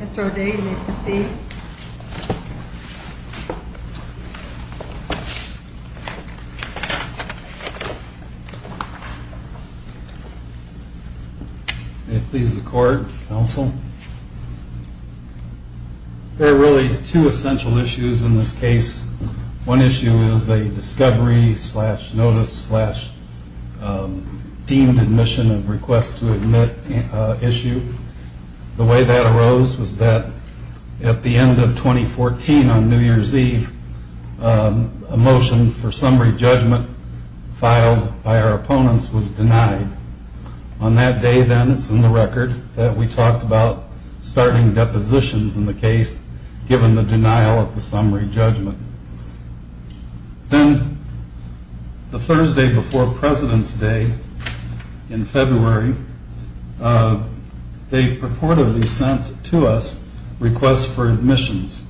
Mr. O'Day, you may proceed. May it please the Court, Counsel. There are really two essential issues in this case. One issue is a discovery slash notice slash deemed admission of request to admit issue. The way that arose was that at the end of 2014 on New Year's Eve, a motion for summary judgment filed by our opponents was denied. On that day, then, it's in the record that we talked about starting depositions in the case given the denial of the summary judgment. Then the Thursday before President's Day in February, they purportedly sent to us requests for admissions,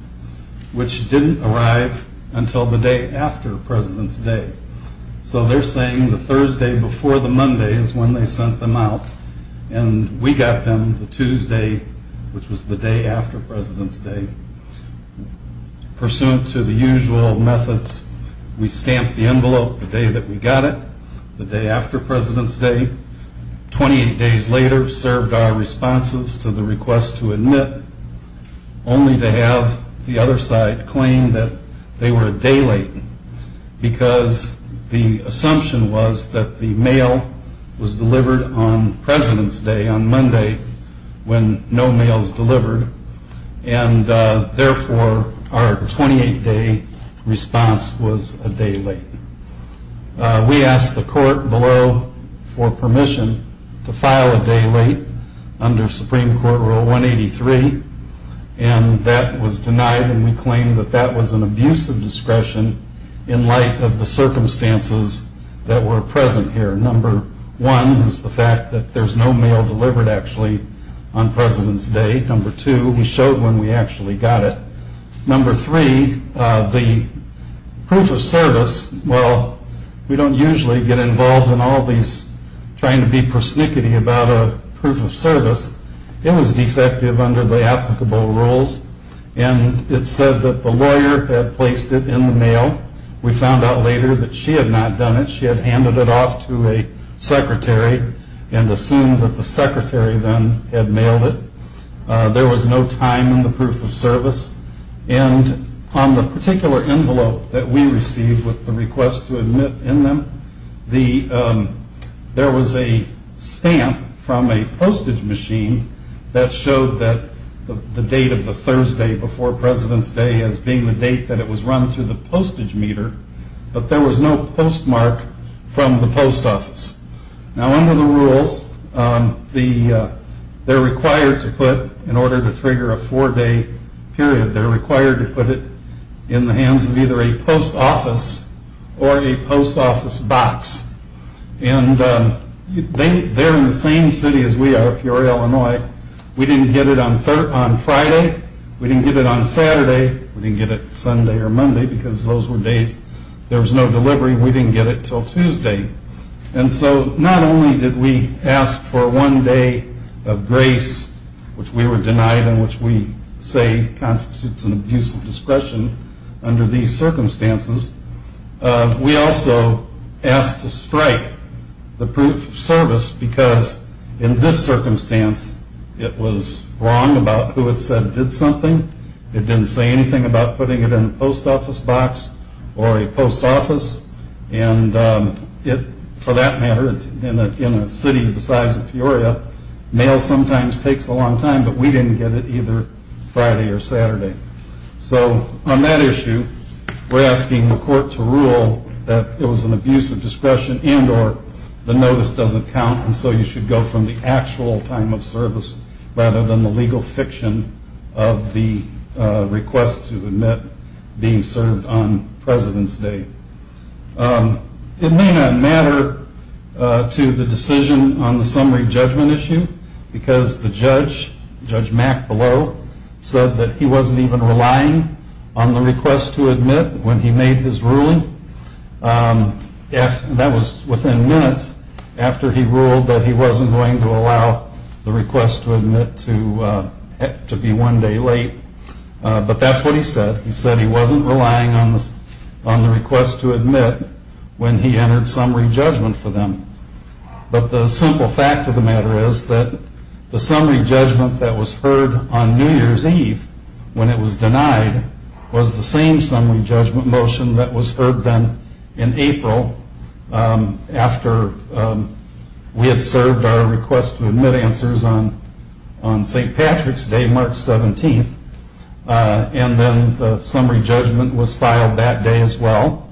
which didn't arrive until the day after President's Day. So they're saying the Thursday before the Monday is when they sent them out, and we got them the Tuesday, which was the day after President's Day. Pursuant to the usual methods, we stamped the envelope the day that we got it, the day after President's Day. Twenty-eight days later served our responses to the request to admit, only to have the other side claim that they were a day late because the assumption was that the mail was delivered on President's Day, on Monday, when no mail is delivered, and therefore our 28-day response was a day late. We asked the court below for permission to file a day late under Supreme Court Rule 183, and that was denied, and we claim that that was an abuse of discretion in light of the circumstances that were present here. Number one is the fact that there's no mail delivered, actually, on President's Day. Number two, we showed when we actually got it. Number three, the proof of service, well, we don't usually get involved in all these trying to be persnickety about a proof of service. It was defective under the applicable rules, and it said that the lawyer had placed it in the mail. We found out later that she had not done it. She had handed it off to a secretary and assumed that the secretary then had mailed it. There was no time in the proof of service, and on the particular envelope that we received with the request to admit in them, there was a stamp from a postage machine that showed the date of the Thursday before President's Day as being the date that it was run through the postage meter, but there was no postmark from the post office. Now, under the rules, they're required to put, in order to trigger a four-day period, they're required to put it in the hands of either a post office or a post office box, and they're in the same city as we are, Peoria, Illinois. We didn't get it on Friday. We didn't get it on Saturday. We didn't get it Sunday or Monday because those were days there was no delivery. We didn't get it until Tuesday, and so not only did we ask for one day of grace, which we were denied and which we say constitutes an abuse of discretion under these circumstances, we also asked to strike the proof of service because in this circumstance, it was wrong about who it said did something. It didn't say anything about putting it in a post office box or a post office, and for that matter, in a city the size of Peoria, mail sometimes takes a long time, but we didn't get it either Friday or Saturday. So on that issue, we're asking the court to rule that it was an abuse of discretion and or the notice doesn't count and so you should go from the actual time of service rather than the legal fiction of the request to admit being served on President's Day. It may not matter to the decision on the summary judgment issue because the judge, Judge Mack Below, said that he wasn't even relying on the request to admit when he made his ruling. That was within minutes after he ruled that he wasn't going to allow the request to admit to be one day late, but that's what he said. He said he wasn't relying on the request to admit when he entered summary judgment for them, but the simple fact of the matter is that the summary judgment that was heard on New Year's Eve when it was denied was the same summary judgment motion that was heard then in April after we had served our request to admit answers on St. Patrick's Day, March 17th, and then the summary judgment was filed that day as well,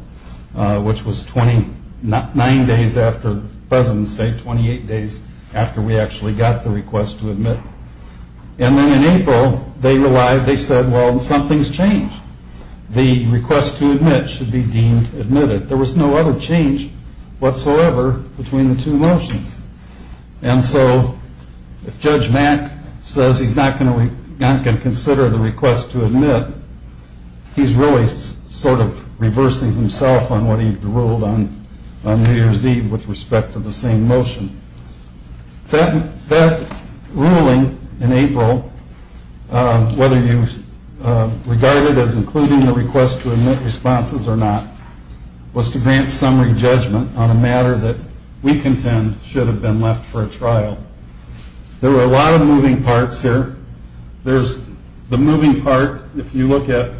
which was 29 days after President's Day, 28 days after we actually got the request to admit. And then in April, they said, well, something's changed. The request to admit should be deemed admitted. There was no other change whatsoever between the two motions. And so if Judge Mack says he's not going to consider the request to admit, he's really sort of reversing himself on what he ruled on New Year's Eve with respect to the same motion. That ruling in April, whether you regard it as including the request to admit responses or not, was to grant summary judgment on a matter that we contend should have been left for a trial. There were a lot of moving parts here. There's the moving part, if you look at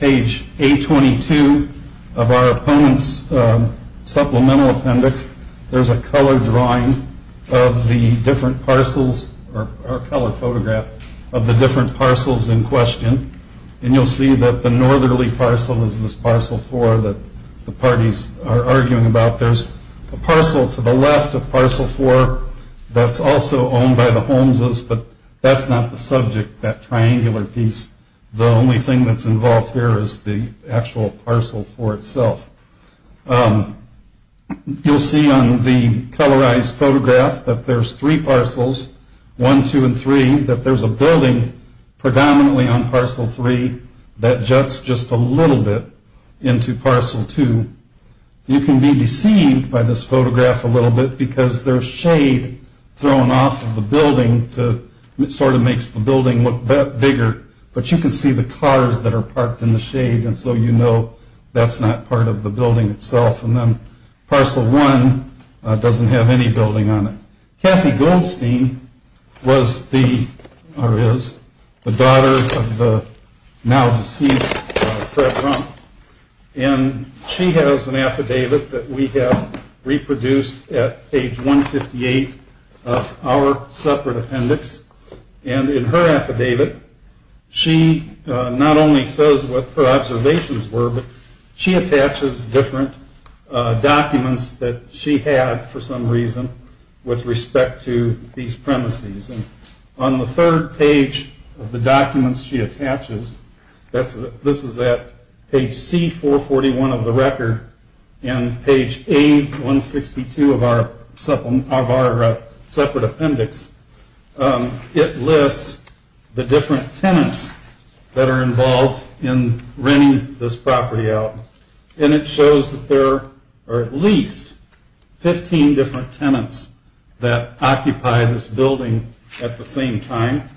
page 822 of our opponents' supplemental appendix, there's a color drawing of the different parcels or color photograph of the different parcels in question. And you'll see that the northerly parcel is this parcel 4 that the parties are arguing about. There's a parcel to the left, a parcel 4, that's also owned by the Holmeses, but that's not the subject, that triangular piece. The only thing that's involved here is the actual parcel 4 itself. You'll see on the colorized photograph that there's three parcels, 1, 2, and 3, and you'll see that there's a building predominantly on parcel 3 that juts just a little bit into parcel 2. You can be deceived by this photograph a little bit because there's shade thrown off of the building to sort of make the building look bigger, but you can see the cars that are parked in the shade, and so you know that's not part of the building itself. And then parcel 1 doesn't have any building on it. Kathy Goldstein was the, or is, the daughter of the now deceased Fred Rump, and she has an affidavit that we have reproduced at age 158 of our separate appendix, and in her affidavit she not only says what her observations were, but she attaches different documents that she had for some reason with respect to these premises. On the third page of the documents she attaches, this is at page C441 of the record, and page A162 of our separate appendix, it lists the different tenants that are involved in renting this property out, and it shows that there are at least 15 different tenants that occupy this building at the same time,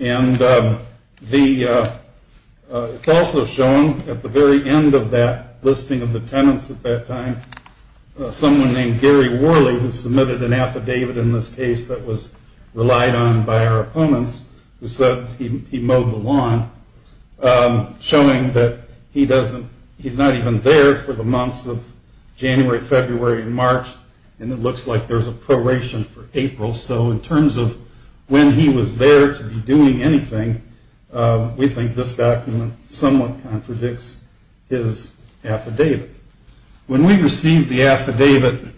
and it's also shown at the very end of that listing of the tenants at that time, someone named Gary Worley who submitted an affidavit in this case that was relied on by our opponents, who said he mowed the lawn, showing that he's not even there for the months of January, February, and March, and it looks like there's a proration for April, so in terms of when he was there to be doing anything, we think this document somewhat contradicts his affidavit. When we received the affidavit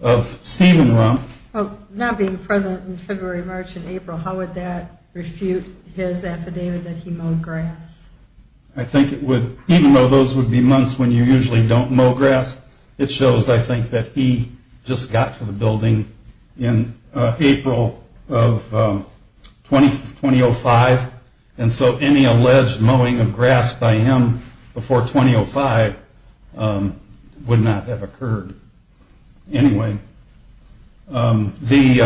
of Stephen Rump... Well, not being present in February, March, and April, how would that refute his affidavit that he mowed grass? I think it would, even though those would be months when you usually don't mow grass, it shows, I think, that he just got to the building in April of 2005, and so any alleged mowing of grass by him before 2005 would not have occurred anyway. Did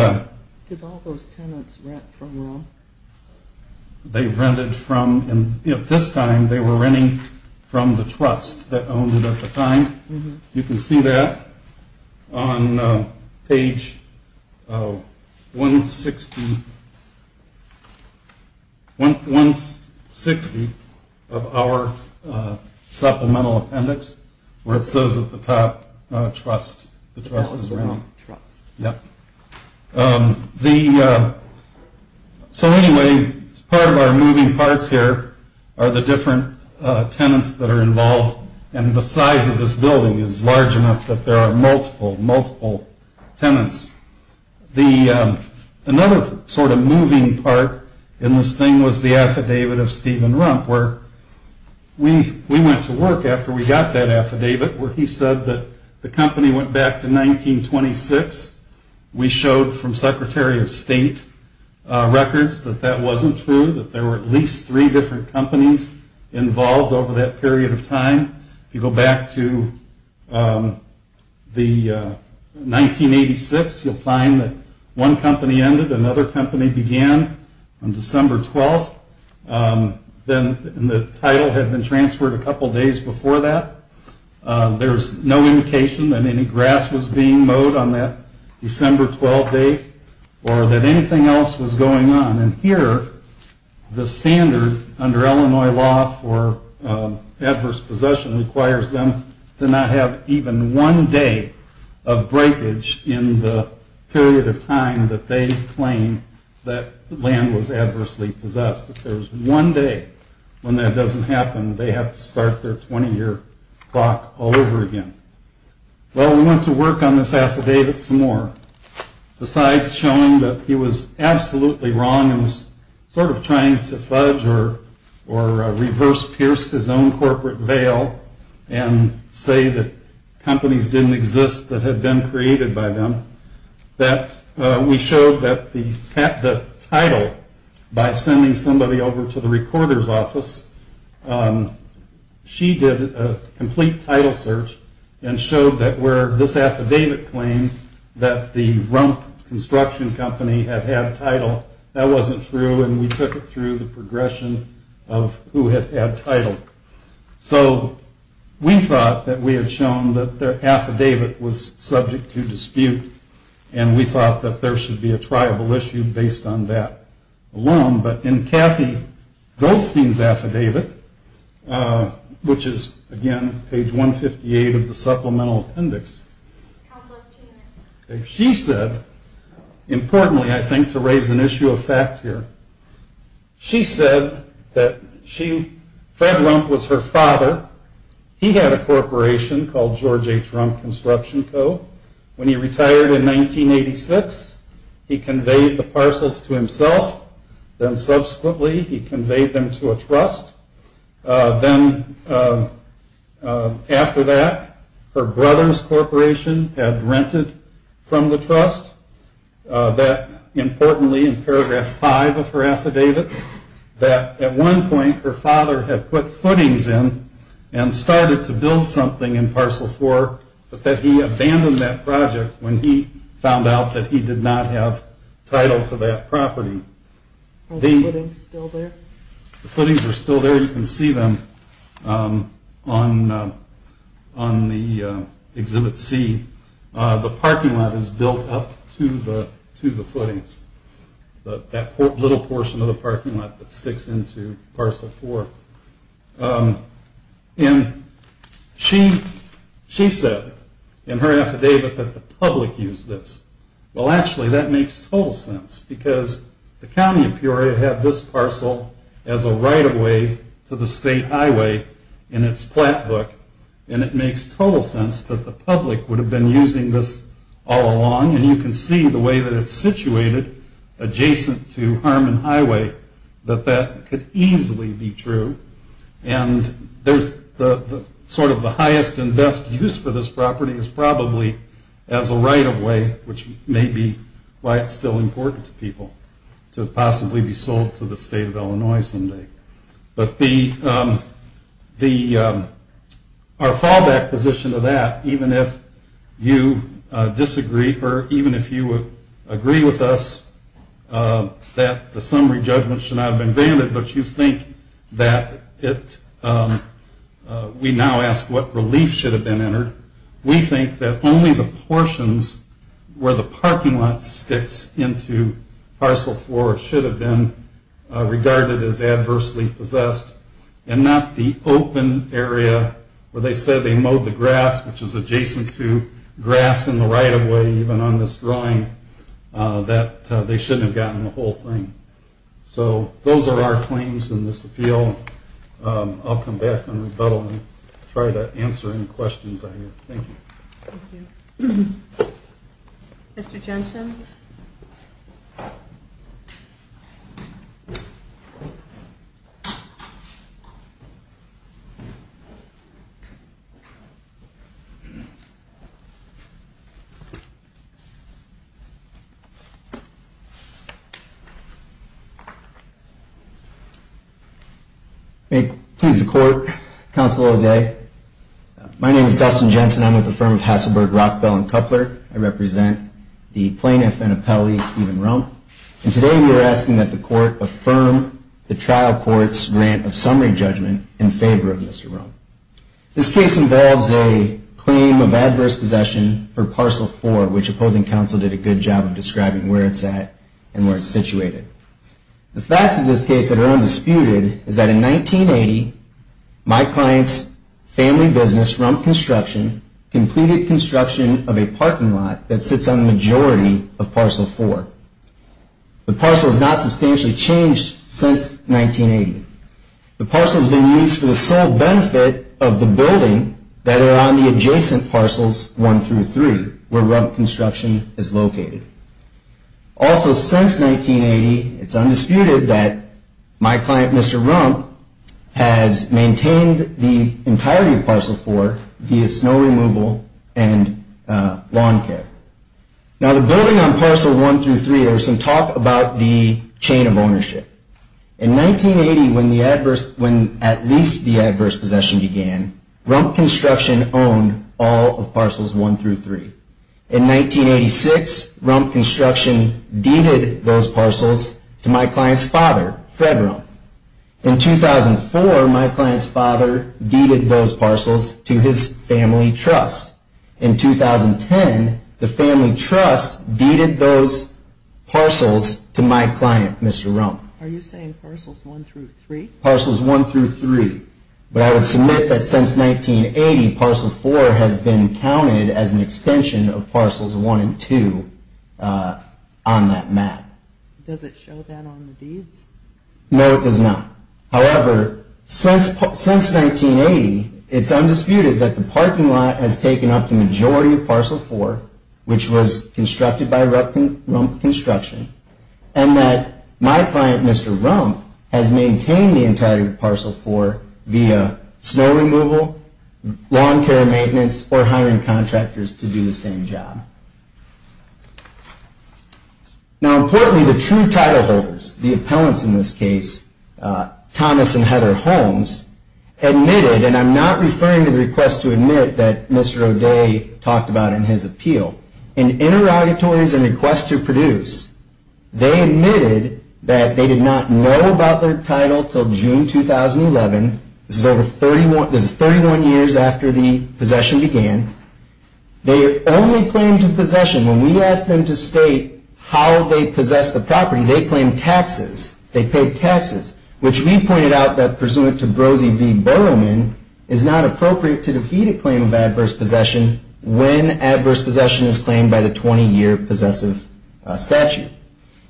all those tenants rent from Rump? They rented from... This time they were renting from the trust that owned it at the time. You can see that on page 160 of our supplemental appendix, where it says at the top, trust. So anyway, part of our moving parts here are the different tenants that are involved and the size of this building is large enough that there are multiple, multiple tenants. Another sort of moving part in this thing was the affidavit of Stephen Rump, where we went to work after we got that affidavit, where he said that the company went back to 1926. We showed from Secretary of State records that that wasn't true, that there were at least three different companies involved over that period of time. If you go back to the 1986, you'll find that one company ended, another company began on December 12th, and the title had been transferred a couple days before that. There's no indication that any grass was being mowed on that December 12th date or that anything else was going on. And here, the standard under Illinois law for adverse possession requires them to not have even one day of breakage in the period of time that they claim that land was adversely possessed. If there's one day when that doesn't happen, they have to start their 20-year clock all over again. Well, we went to work on this affidavit some more. Besides showing that he was absolutely wrong and was sort of trying to fudge or reverse-pierce his own corporate veil and say that companies didn't exist that had been created by them, that we showed that the title, by sending somebody over to the recorder's office, she did a complete title search and showed that where this affidavit claimed that the Rump Construction Company had had a title, that wasn't true, and we took it through the progression of who had had title. So we thought that we had shown that their affidavit was subject to dispute, and we thought that there should be a triable issue based on that alone. But in Kathy Goldstein's affidavit, which is, again, page 158 of the Supplemental Appendix, she said, importantly I think to raise an issue of fact here, she said that Fred Rump was her father. He had a corporation called George H. Rump Construction Co. When he retired in 1986, he conveyed the parcels to himself. Then subsequently he conveyed them to a trust. Then after that, her brother's corporation had rented from the trust, that importantly in paragraph 5 of her affidavit, that at one point her father had put footings in and started to build something in Parcel 4, but that he abandoned that project when he found out that he did not have title to that property. Are the footings still there? The footings are still there. You can see them on the Exhibit C. The parking lot is built up to the footings, that little portion of the parking lot that sticks into Parcel 4. And she said in her affidavit that the public used this. Well actually that makes total sense, because the county of Peoria had this parcel as a right of way to the state highway in its plat book. And it makes total sense that the public would have been using this all along. And you can see the way that it's situated adjacent to Harmon Highway, that that could easily be true. And sort of the highest and best use for this property is probably as a right of way, which may be why it's still important to people to possibly be sold to the state of Illinois someday. But our fallback position to that, even if you disagree or even if you agree with us that the summary judgment should not have been granted, but you think that we now ask what relief should have been entered, we think that only the portions where the parking lot sticks into Parcel 4 should have been regarded as adversely possessed, and not the open area where they said they mowed the grass, which is adjacent to grass in the right of way even on this drawing, that they shouldn't have gotten the whole thing. So those are our claims in this appeal. I'll come back on rebuttal and try to answer any questions I have. Thank you. Thank you. Mr. Jensen? May it please the court, counsel O'Day. My name is Dustin Jensen. I'm with the firm of Hasselberg, Rockbell, and Kuppler. I represent the plaintiff and appellee, Stephen Rump. And today we are asking that the court affirm the trial court's grant of summary judgment in favor of Mr. Rump. This case involves a claim of adverse possession for Parcel 4, which opposing counsel did a good job of describing where it's at and where it's situated. The facts of this case that are undisputed is that in 1980, my client's family business, Rump Construction, completed construction of a parking lot that sits on the majority of Parcel 4. The parcel has not substantially changed since 1980. The parcel has been used for the sole benefit of the building that are on the adjacent parcels 1 through 3, where Rump Construction is located. Also, since 1980, it's undisputed that my client, Mr. Rump, has maintained the entirety of Parcel 4 via snow removal and lawn care. Now, the building on Parcel 1 through 3, there was some talk about the chain of ownership. In 1980, when at least the adverse possession began, Rump Construction owned all of Parcels 1 through 3. In 1986, Rump Construction deeded those parcels to my client's father, Fred Rump. In 2004, my client's father deeded those parcels to his family trust. In 2010, the family trust deeded those parcels to my client, Mr. Rump. Are you saying Parcels 1 through 3? Parcels 1 through 3. But I would submit that since 1980, Parcel 4 has been counted as an extension of Parcels 1 and 2 on that map. Does it show that on the deeds? No, it does not. However, since 1980, it's undisputed that the parking lot has taken up the majority of Parcel 4, which was constructed by Rump Construction, and that my client, Mr. Rump, has maintained the entirety of Parcel 4 via snow removal, lawn care maintenance, or hiring contractors to do the same job. Now, importantly, the true title holders, the appellants in this case, Thomas and Heather Holmes, admitted, and I'm not referring to the request to admit that Mr. O'Day talked about in his appeal, in interrogatories and requests to produce, they admitted that they did not know about their title until June 2011. This is 31 years after the possession began. They only claimed possession. When we asked them to state how they possessed the property, they claimed taxes. They paid taxes, which we pointed out that, is not appropriate to defeat a claim of adverse possession when adverse possession is claimed by the 20-year possessive statute.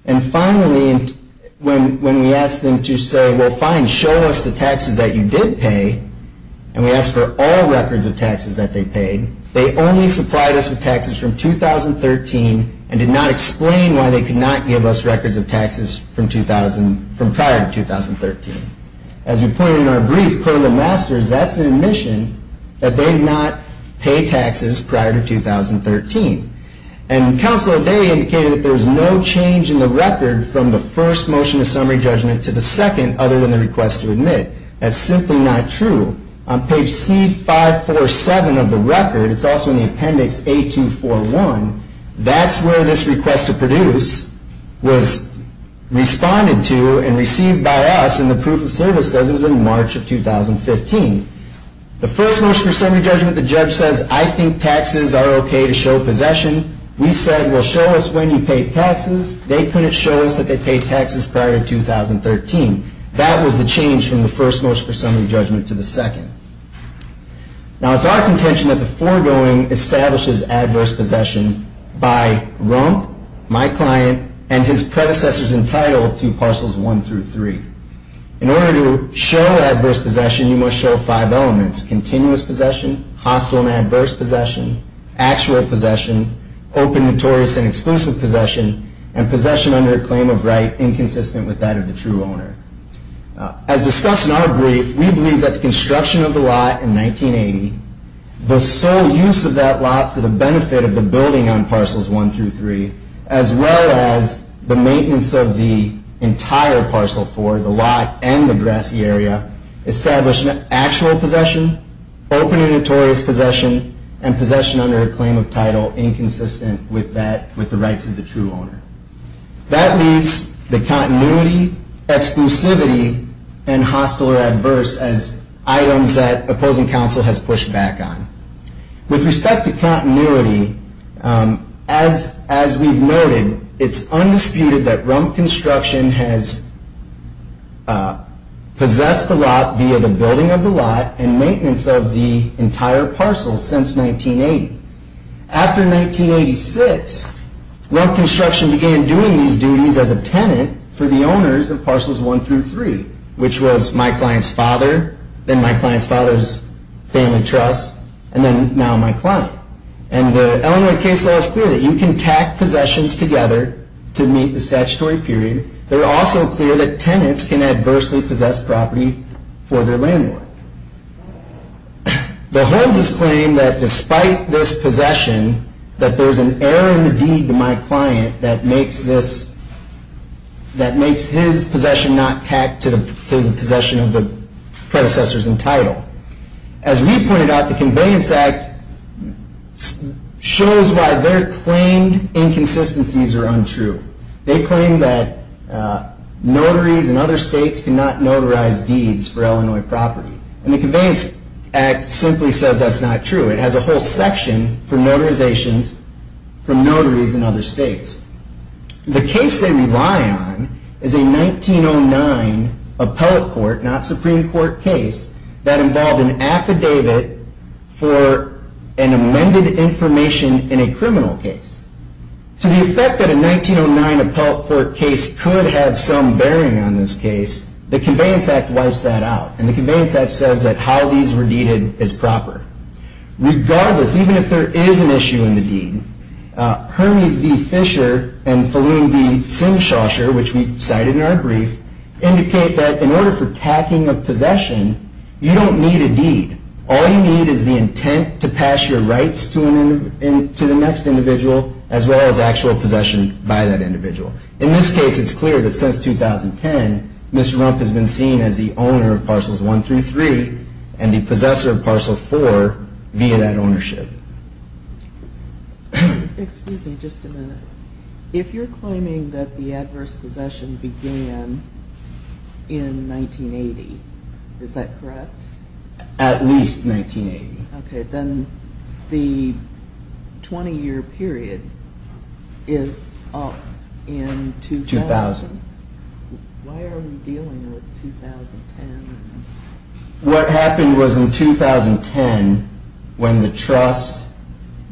And finally, when we asked them to say, well, fine, show us the taxes that you did pay, and we asked for all records of taxes that they paid, they only supplied us with taxes from 2013 and did not explain why they could not give us records of taxes from prior to 2013. As we pointed out in our brief, permanent masters, that's an admission that they did not pay taxes prior to 2013. And Counsel O'Day indicated that there was no change in the record from the first motion of summary judgment to the second, other than the request to admit. That's simply not true. On page C547 of the record, it's also in the appendix A241, that's where this request to produce was responded to and received by us, and the proof of service says it was in March of 2015. The first motion of summary judgment, the judge says, I think taxes are okay to show possession. We said, well, show us when you paid taxes. They couldn't show us that they paid taxes prior to 2013. That was the change from the first motion of summary judgment to the second. Now, it's our contention that the foregoing establishes adverse possession by Rump, my client, and his predecessors entitled to parcels 1 through 3. In order to show adverse possession, you must show five elements, continuous possession, hostile and adverse possession, actual possession, open, notorious, and exclusive possession, and possession under a claim of right inconsistent with that of the true owner. As discussed in our brief, we believe that the construction of the lot in 1980, the sole use of that lot for the benefit of the building on parcels 1 through 3, as well as the maintenance of the entire parcel 4, the lot and the grassy area, established actual possession, open and notorious possession, and possession under a claim of title inconsistent with the rights of the true owner. That leaves the continuity, exclusivity, and hostile or adverse as items that opposing counsel has pushed back on. With respect to continuity, as we've noted, it's undisputed that Rump Construction has possessed the lot via the building of the lot and maintenance of the entire parcel since 1980. After 1986, Rump Construction began doing these duties as a tenant for the owners of parcels 1 through 3, which was my client's father, then my client's father's family trust, and then now my client. And the Illinois case law is clear that you can tack possessions together to meet the statutory period. They're also clear that tenants can adversely possess property for their landlord. The Holmes's claim that despite this possession, that there's an error in the deed to my client that makes his possession not tacked to the possession of the predecessors in title. As we pointed out, the Conveyance Act shows why their claimed inconsistencies are untrue. They claim that notaries in other states cannot notarize deeds for Illinois property. And the Conveyance Act simply says that's not true. It has a whole section for notarizations from notaries in other states. The case they rely on is a 1909 appellate court, not Supreme Court case, that involved an affidavit for an amended information in a criminal case. To the effect that a 1909 appellate court case could have some bearing on this case, the Conveyance Act wipes that out. And the Conveyance Act says that how these were deeded is proper. Regardless, even if there is an issue in the deed, Hermes v. Fisher and Falloon v. Simshawshire, which we cited in our brief, indicate that in order for tacking of possession, you don't need a deed. All you need is the intent to pass your rights to the next individual, as well as actual possession by that individual. In this case, it's clear that since 2010, Ms. Rump has been seen as the owner of Parcels 1 through 3 and the possessor of Parcel 4 via that ownership. Excuse me just a minute. If you're claiming that the adverse possession began in 1980, is that correct? At least 1980. Okay. Then the 20-year period is up in 2000? 2000. Why are we dealing with 2010? What happened was in 2010, when the trust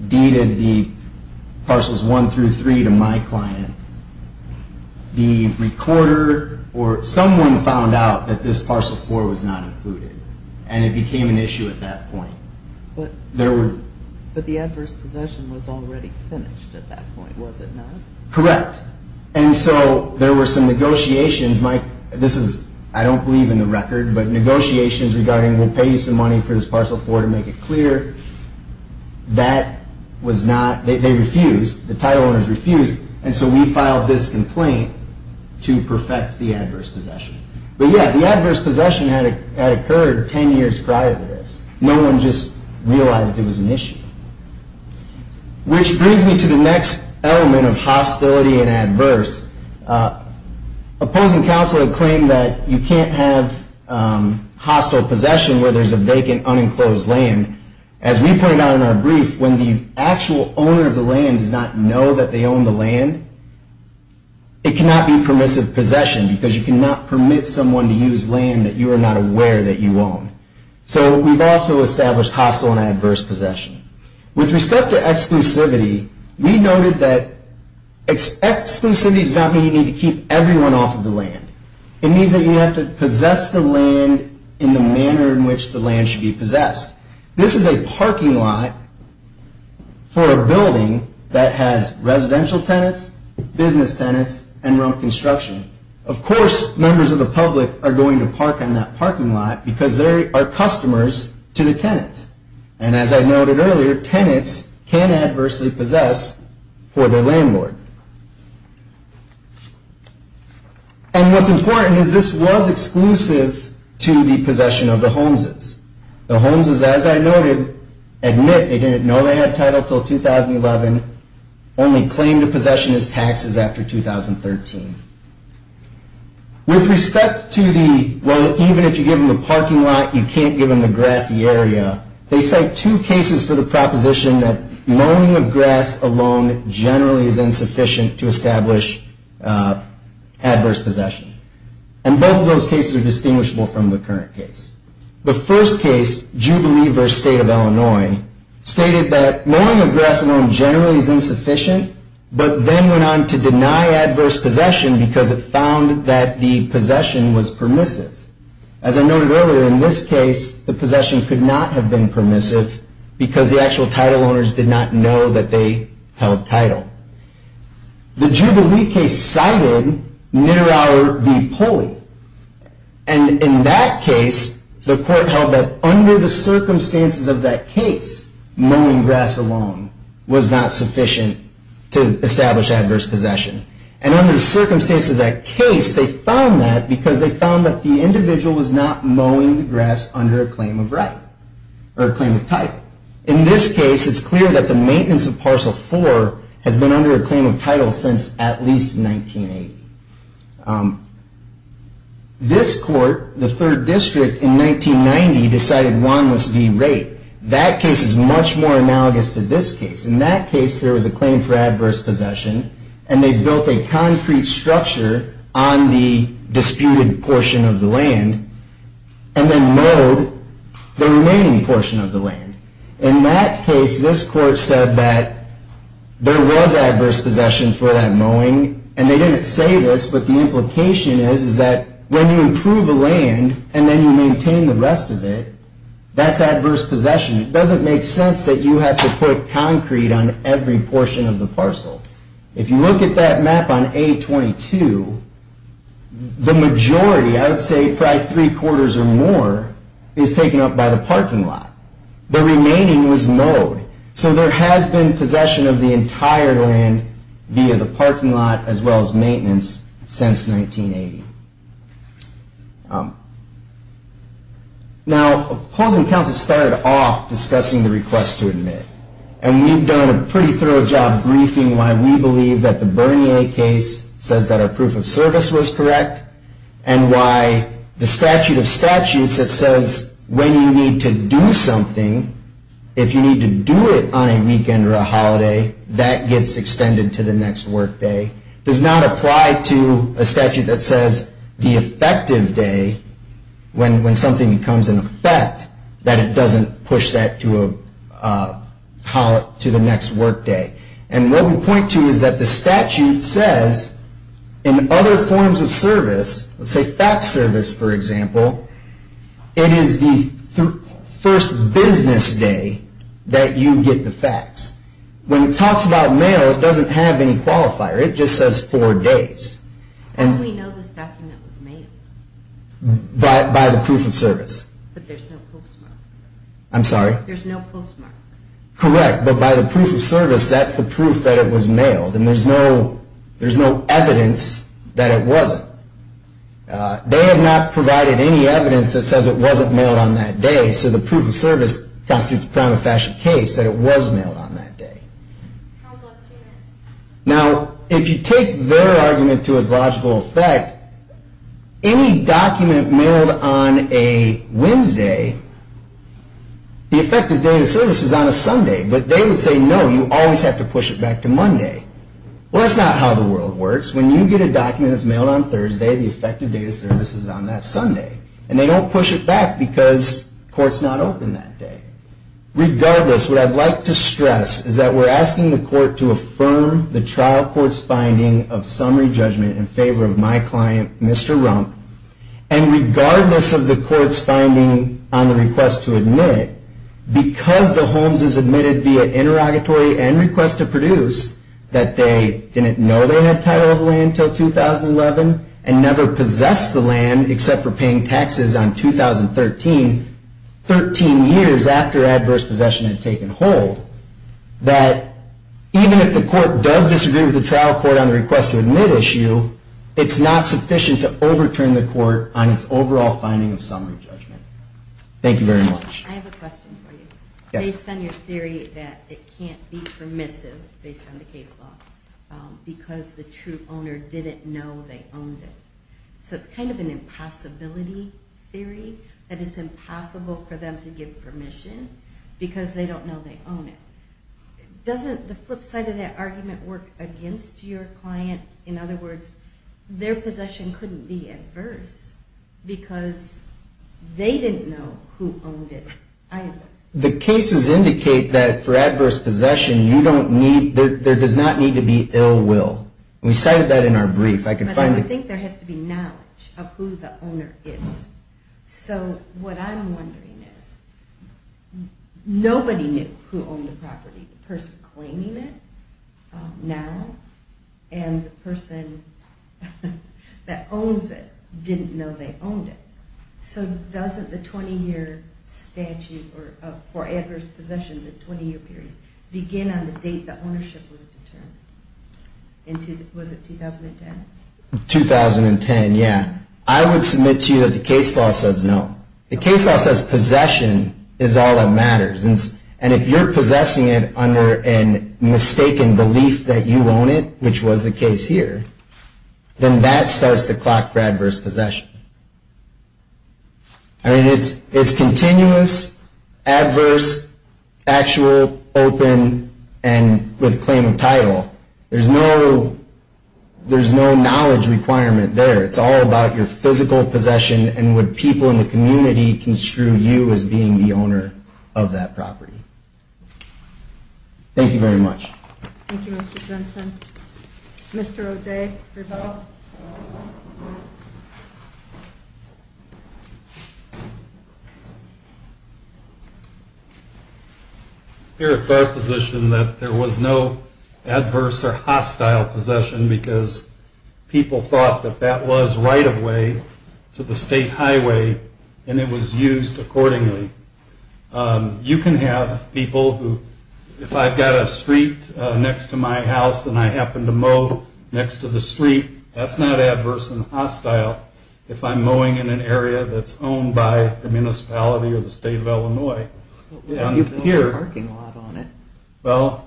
deeded the Parcels 1 through 3 to my client, the recorder or someone found out that this Parcel 4 was not included and it became an issue at that point. But the adverse possession was already finished at that point, was it not? Correct. And so there were some negotiations. This is, I don't believe in the record, but negotiations regarding we'll pay you some money for this Parcel 4 to make it clear. That was not, they refused, the title owners refused, and so we filed this complaint to perfect the adverse possession. But, yeah, the adverse possession had occurred 10 years prior to this. No one just realized it was an issue. Which brings me to the next element of hostility and adverse. Opposing counsel have claimed that you can't have hostile possession where there's a vacant, unenclosed land. As we point out in our brief, when the actual owner of the land does not know that they own the land, it cannot be permissive possession because you cannot permit someone to use land that you are not aware that you own. So we've also established hostile and adverse possession. With respect to exclusivity, we noted that exclusivity does not mean you need to keep everyone off of the land. It means that you have to possess the land in the manner in which the land should be possessed. This is a parking lot for a building that has residential tenants, business tenants, and road construction. Of course, members of the public are going to park in that parking lot because they are customers to the tenants. And as I noted earlier, tenants can adversely possess for their landlord. And what's important is this was exclusive to the possession of the Holmeses. The Holmeses, as I noted, admit they didn't know they had title until 2011, only claimed a possession as taxes after 2013. With respect to the, well, even if you give them the parking lot, you can't give them the grassy area, they cite two cases for the proposition that loaning of grass alone generally is insufficient to establish adverse possession. And both of those cases are distinguishable from the current case. The first case, Jubilee v. State of Illinois, stated that loaning of grass alone generally is insufficient, but then went on to deny adverse possession because it found that the possession was permissive. As I noted earlier, in this case, the possession could not have been permissive because the actual title owners did not know that they held title. The Jubilee case cited Niterauer v. Poli. And in that case, the court held that under the circumstances of that case, mowing grass alone was not sufficient to establish adverse possession. And under the circumstances of that case, they found that because they found that the individual was not mowing the grass under a claim of right, or a claim of title. In this case, it's clear that the maintenance of Parcel 4 has been under a claim of title since at least 1980. This court, the 3rd District in 1990, decided Wandless v. Rape. That case is much more analogous to this case. In that case, there was a claim for adverse possession, and they built a concrete structure on the disputed portion of the land and then mowed the remaining portion of the land. In that case, this court said that there was adverse possession for that mowing, and they didn't say this, but the implication is, is that when you improve a land and then you maintain the rest of it, that's adverse possession. It doesn't make sense that you have to put concrete on every portion of the parcel. If you look at that map on A22, the majority, I would say probably three-quarters or more, is taken up by the parking lot. The remaining was mowed. So there has been possession of the entire land via the parking lot as well as maintenance since 1980. Now, opposing counsel started off discussing the request to admit, and we've done a pretty thorough job briefing why we believe that the Bernier case says that our proof of service was correct and why the statute of statutes that says when you need to do something, if you need to do it on a weekend or a holiday, that gets extended to the next workday, does not apply to a statute that says the effective day, when something becomes an effect, that it doesn't push that to the next workday. And what we point to is that the statute says in other forms of service, let's say fax service, for example, it is the first business day that you get the fax. When it talks about mail, it doesn't have any qualifier. It just says four days. How do we know this document was mailed? By the proof of service. But there's no postmark. I'm sorry? There's no postmark. Correct, but by the proof of service, that's the proof that it was mailed, and there's no evidence that it wasn't. They have not provided any evidence that says it wasn't mailed on that day, so the proof of service constitutes a prima facie case that it was mailed on that day. Now, if you take their argument to its logical effect, any document mailed on a Wednesday, the effective date of service is on a Sunday, but they would say, no, you always have to push it back to Monday. Well, that's not how the world works. When you get a document that's mailed on Thursday, the effective date of service is on that Sunday, and they don't push it back because court's not open that day. Regardless, what I'd like to stress is that we're asking the court to affirm the trial court's finding of summary judgment in favor of my client, Mr. Rump, and regardless of the court's finding on the request to admit, because the Holmes is admitted via interrogatory and request to produce, that they didn't know they had title of land until 2011 and never possessed the land except for paying taxes on 2013, 13 years after adverse possession had taken hold, that even if the court does disagree with the trial court on the request to admit issue, it's not sufficient to overturn the court on its overall finding of summary judgment. Thank you very much. I have a question for you. Yes. You focused on your theory that it can't be permissive based on the case law because the true owner didn't know they owned it. So it's kind of an impossibility theory that it's impossible for them to give permission because they don't know they own it. Doesn't the flip side of that argument work against your client? In other words, their possession couldn't be adverse because they didn't know who owned it either. The cases indicate that for adverse possession there does not need to be ill will. We cited that in our brief. But I don't think there has to be knowledge of who the owner is. So what I'm wondering is nobody knew who owned the property. The person claiming it now and the person that owns it didn't know they owned it. So doesn't the 20-year statute for adverse possession, the 20-year period, begin on the date that ownership was determined? Was it 2010? 2010, yeah. I would submit to you that the case law says no. The case law says possession is all that matters. And if you're possessing it under a mistaken belief that you own it, which was the case here, then that starts the clock for adverse possession. I mean, it's continuous, adverse, actual, open, and with claim of title. There's no knowledge requirement there. It's all about your physical possession and what people in the community construe you as being the owner of that property. Thank you very much. Thank you, Mr. Jensen. Mr. O'Day, rebuttal. Here it's our position that there was no adverse or hostile possession because people thought that that was right-of-way to the state highway and it was used accordingly. You can have people who, if I've got a street next to my house and I happen to mow next to the street, that's not adverse and hostile if I'm mowing in an area that's owned by the municipality or the state of Illinois. You put a parking lot on it. Well,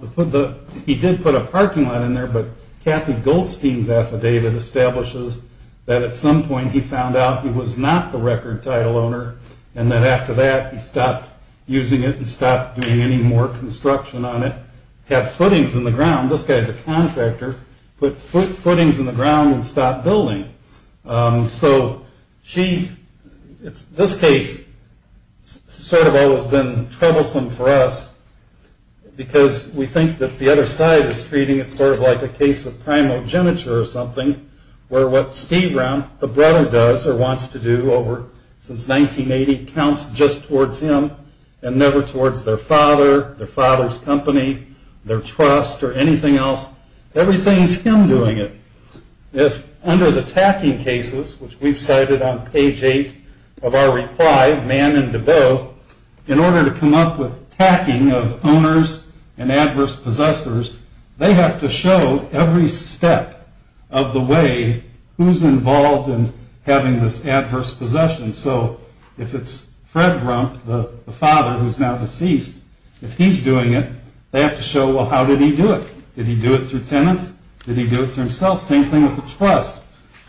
he did put a parking lot in there, but Kathy Goldstein's affidavit establishes that at some point he found out he was not the record title owner and that after that he stopped using it and stopped doing any more construction on it, had footings in the ground. This guy's a contractor, put footings in the ground and stopped building. So this case has sort of always been troublesome for us because we think that the other side is treating it sort of like a case of primogeniture or something where what Steve Brown, the brother, does or wants to do since 1980 counts just towards him and never towards their father, their father's company, their trust, or anything else. Everything's him doing it. If under the tacking cases, which we've cited on page 8 of our reply, Mann and DeBow, in order to come up with tacking of owners and adverse possessors, they have to show every step of the way who's involved in having this adverse possession. So if it's Fred Grumpf, the father, who's now deceased, if he's doing it, they have to show, well, how did he do it? Did he do it through tenants? Did he do it through himself? Same thing with the trust.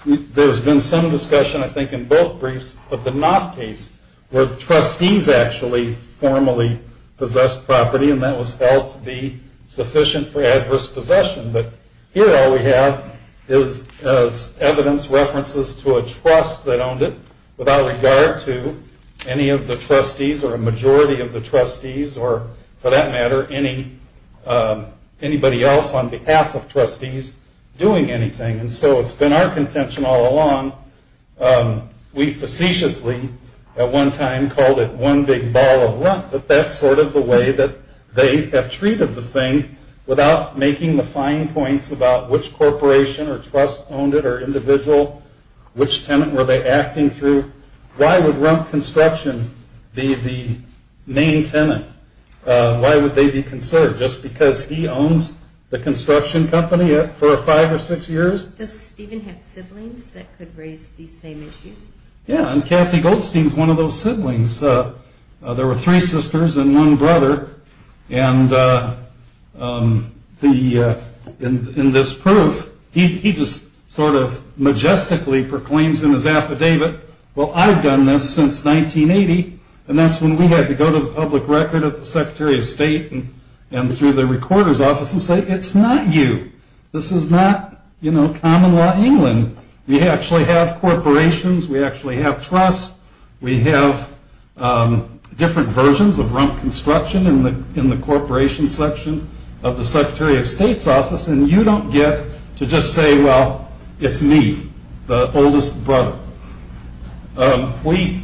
There's been some discussion, I think, in both briefs, but the Knopf case where the trustees actually formally possessed property and that was felt to be sufficient for adverse possession. But here all we have is evidence, references to a trust that owned it without regard to any of the trustees or a majority of the trustees or, for that matter, anybody else on behalf of trustees doing anything. And so it's been our contention all along. We facetiously at one time called it one big ball of runt, but that's sort of the way that they have treated the thing without making the fine points about which corporation or trust owned it or individual, which tenant were they acting through. Why would Grumpf Construction be the main tenant? Why would they be conserved? Just because he owns the construction company for five or six years? Does Stephen have siblings that could raise these same issues? Yeah, and Kathy Goldstein is one of those siblings. There were three sisters and one brother, and in this proof he just sort of majestically proclaims in his affidavit, well, I've done this since 1980, and that's when we had to go to the public record of the Secretary of State and through the recorder's office and say, it's not you. This is not, you know, common law England. We actually have corporations. We actually have trusts. We have different versions of Grumpf Construction in the corporation section of the Secretary of State's office, and you don't get to just say, well, it's me, the oldest brother. We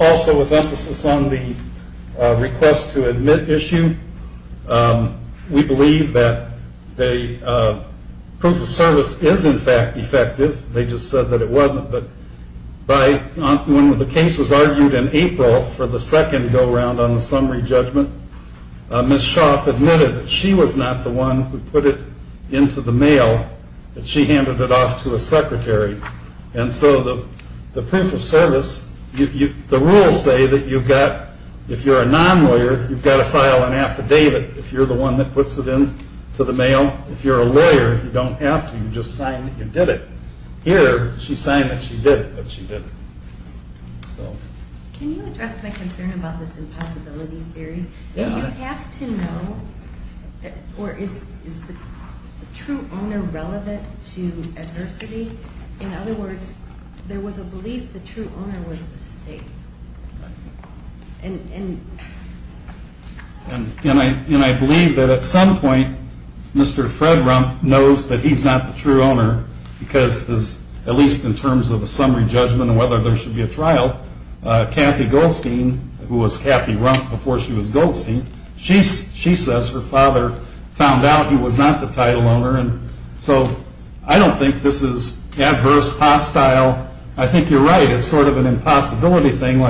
also, with emphasis on the request to admit issue, we believe that the proof of service is, in fact, effective. They just said that it wasn't, but when the case was argued in April for the second go-round on the summary judgment, Ms. Shoff admitted that she was not the one who put it into the mail, that she handed it off to a secretary, and so the proof of service, the rules say that you've got, if you're a non-lawyer, you've got to file an affidavit. If you're the one that puts it into the mail, if you're a lawyer, you don't have to. You just sign that you did it. Here, she signed that she did it, but she didn't. Can you address my concern about this impossibility theory? Do you have to know, or is the true owner relevant to adversity? In other words, there was a belief the true owner was the state. And I believe that at some point, Mr. Fred Rump knows that he's not the true owner, because at least in terms of a summary judgment and whether there should be a trial, Kathy Goldstein, who was Kathy Rump before she was Goldstein, she says her father found out he was not the title owner, and so I don't think this is adverse, hostile. I think you're right. It's sort of an impossibility thing.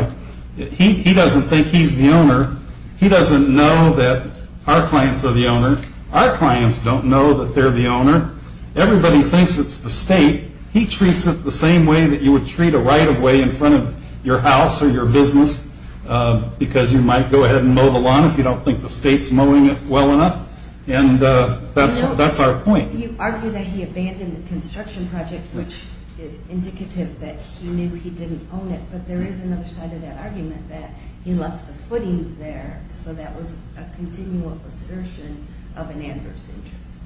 He doesn't think he's the owner. He doesn't know that our clients are the owner. Our clients don't know that they're the owner. Everybody thinks it's the state. He treats it the same way that you would treat a right-of-way in front of your house or your business, because you might go ahead and mow the lawn if you don't think the state's mowing it well enough, and that's our point. You argue that he abandoned the construction project, which is indicative that he knew he didn't own it, but there is another side of that argument that he left the footings there, so that was a continual assertion of an adverse interest.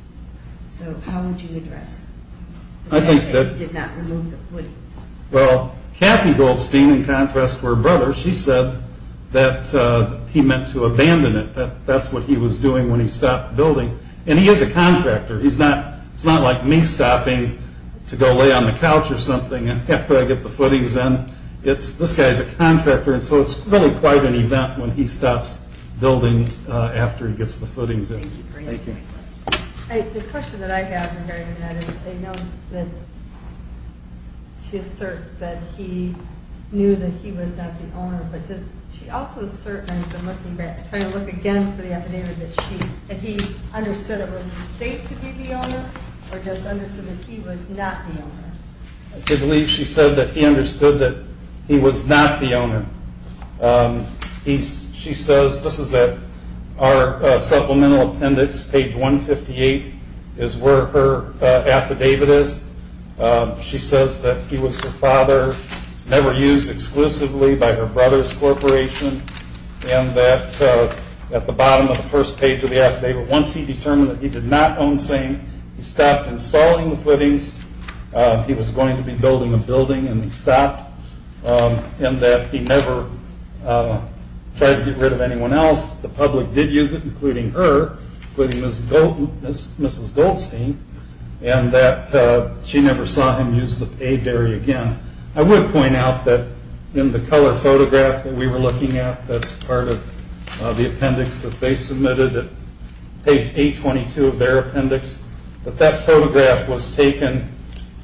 So how would you address the fact that he did not remove the footings? Well, Kathy Goldstein, in contrast to her brother, she said that he meant to abandon it, that that's what he was doing when he stopped building. And he is a contractor. It's not like me stopping to go lay on the couch or something after I get the footings in. This guy's a contractor, and so it's really quite an event when he stops building after he gets the footings in. Thank you for answering my question. The question that I have regarding that is I know that she asserts that he knew that he was not the owner, but she also asserts, and I'm trying to look again for the affidavit, that he understood it was a mistake to be the owner or just understood that he was not the owner? I believe she said that he understood that he was not the owner. She says, this is our supplemental appendix, page 158 is where her affidavit is. She says that he was her father, never used exclusively by her brother's corporation, and that at the bottom of the first page of the affidavit, once he determined that he did not own SANE, he stopped installing the footings, he was going to be building a building and he stopped, and that he never tried to get rid of anyone else. The public did use it, including her, including Mrs. Goldstein, and that she never saw him use the paid area again. I would point out that in the color photograph that we were looking at, that's part of the appendix that they submitted at page 822 of their appendix, that that photograph was taken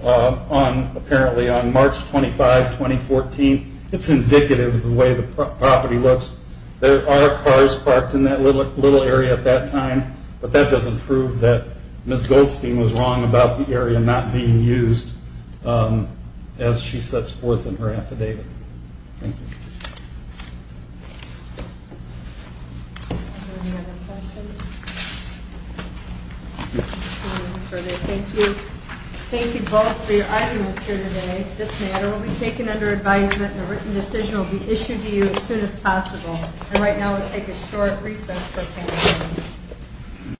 apparently on March 25, 2014. It's indicative of the way the property looks. There are cars parked in that little area at that time, but that doesn't prove that Mrs. Goldstein was wrong about the area not being used, as she sets forth in her affidavit. Thank you. Thank you both for your arguments here today. This matter will be taken under advisement, and a written decision will be issued to you as soon as possible. And right now we'll take a short recess.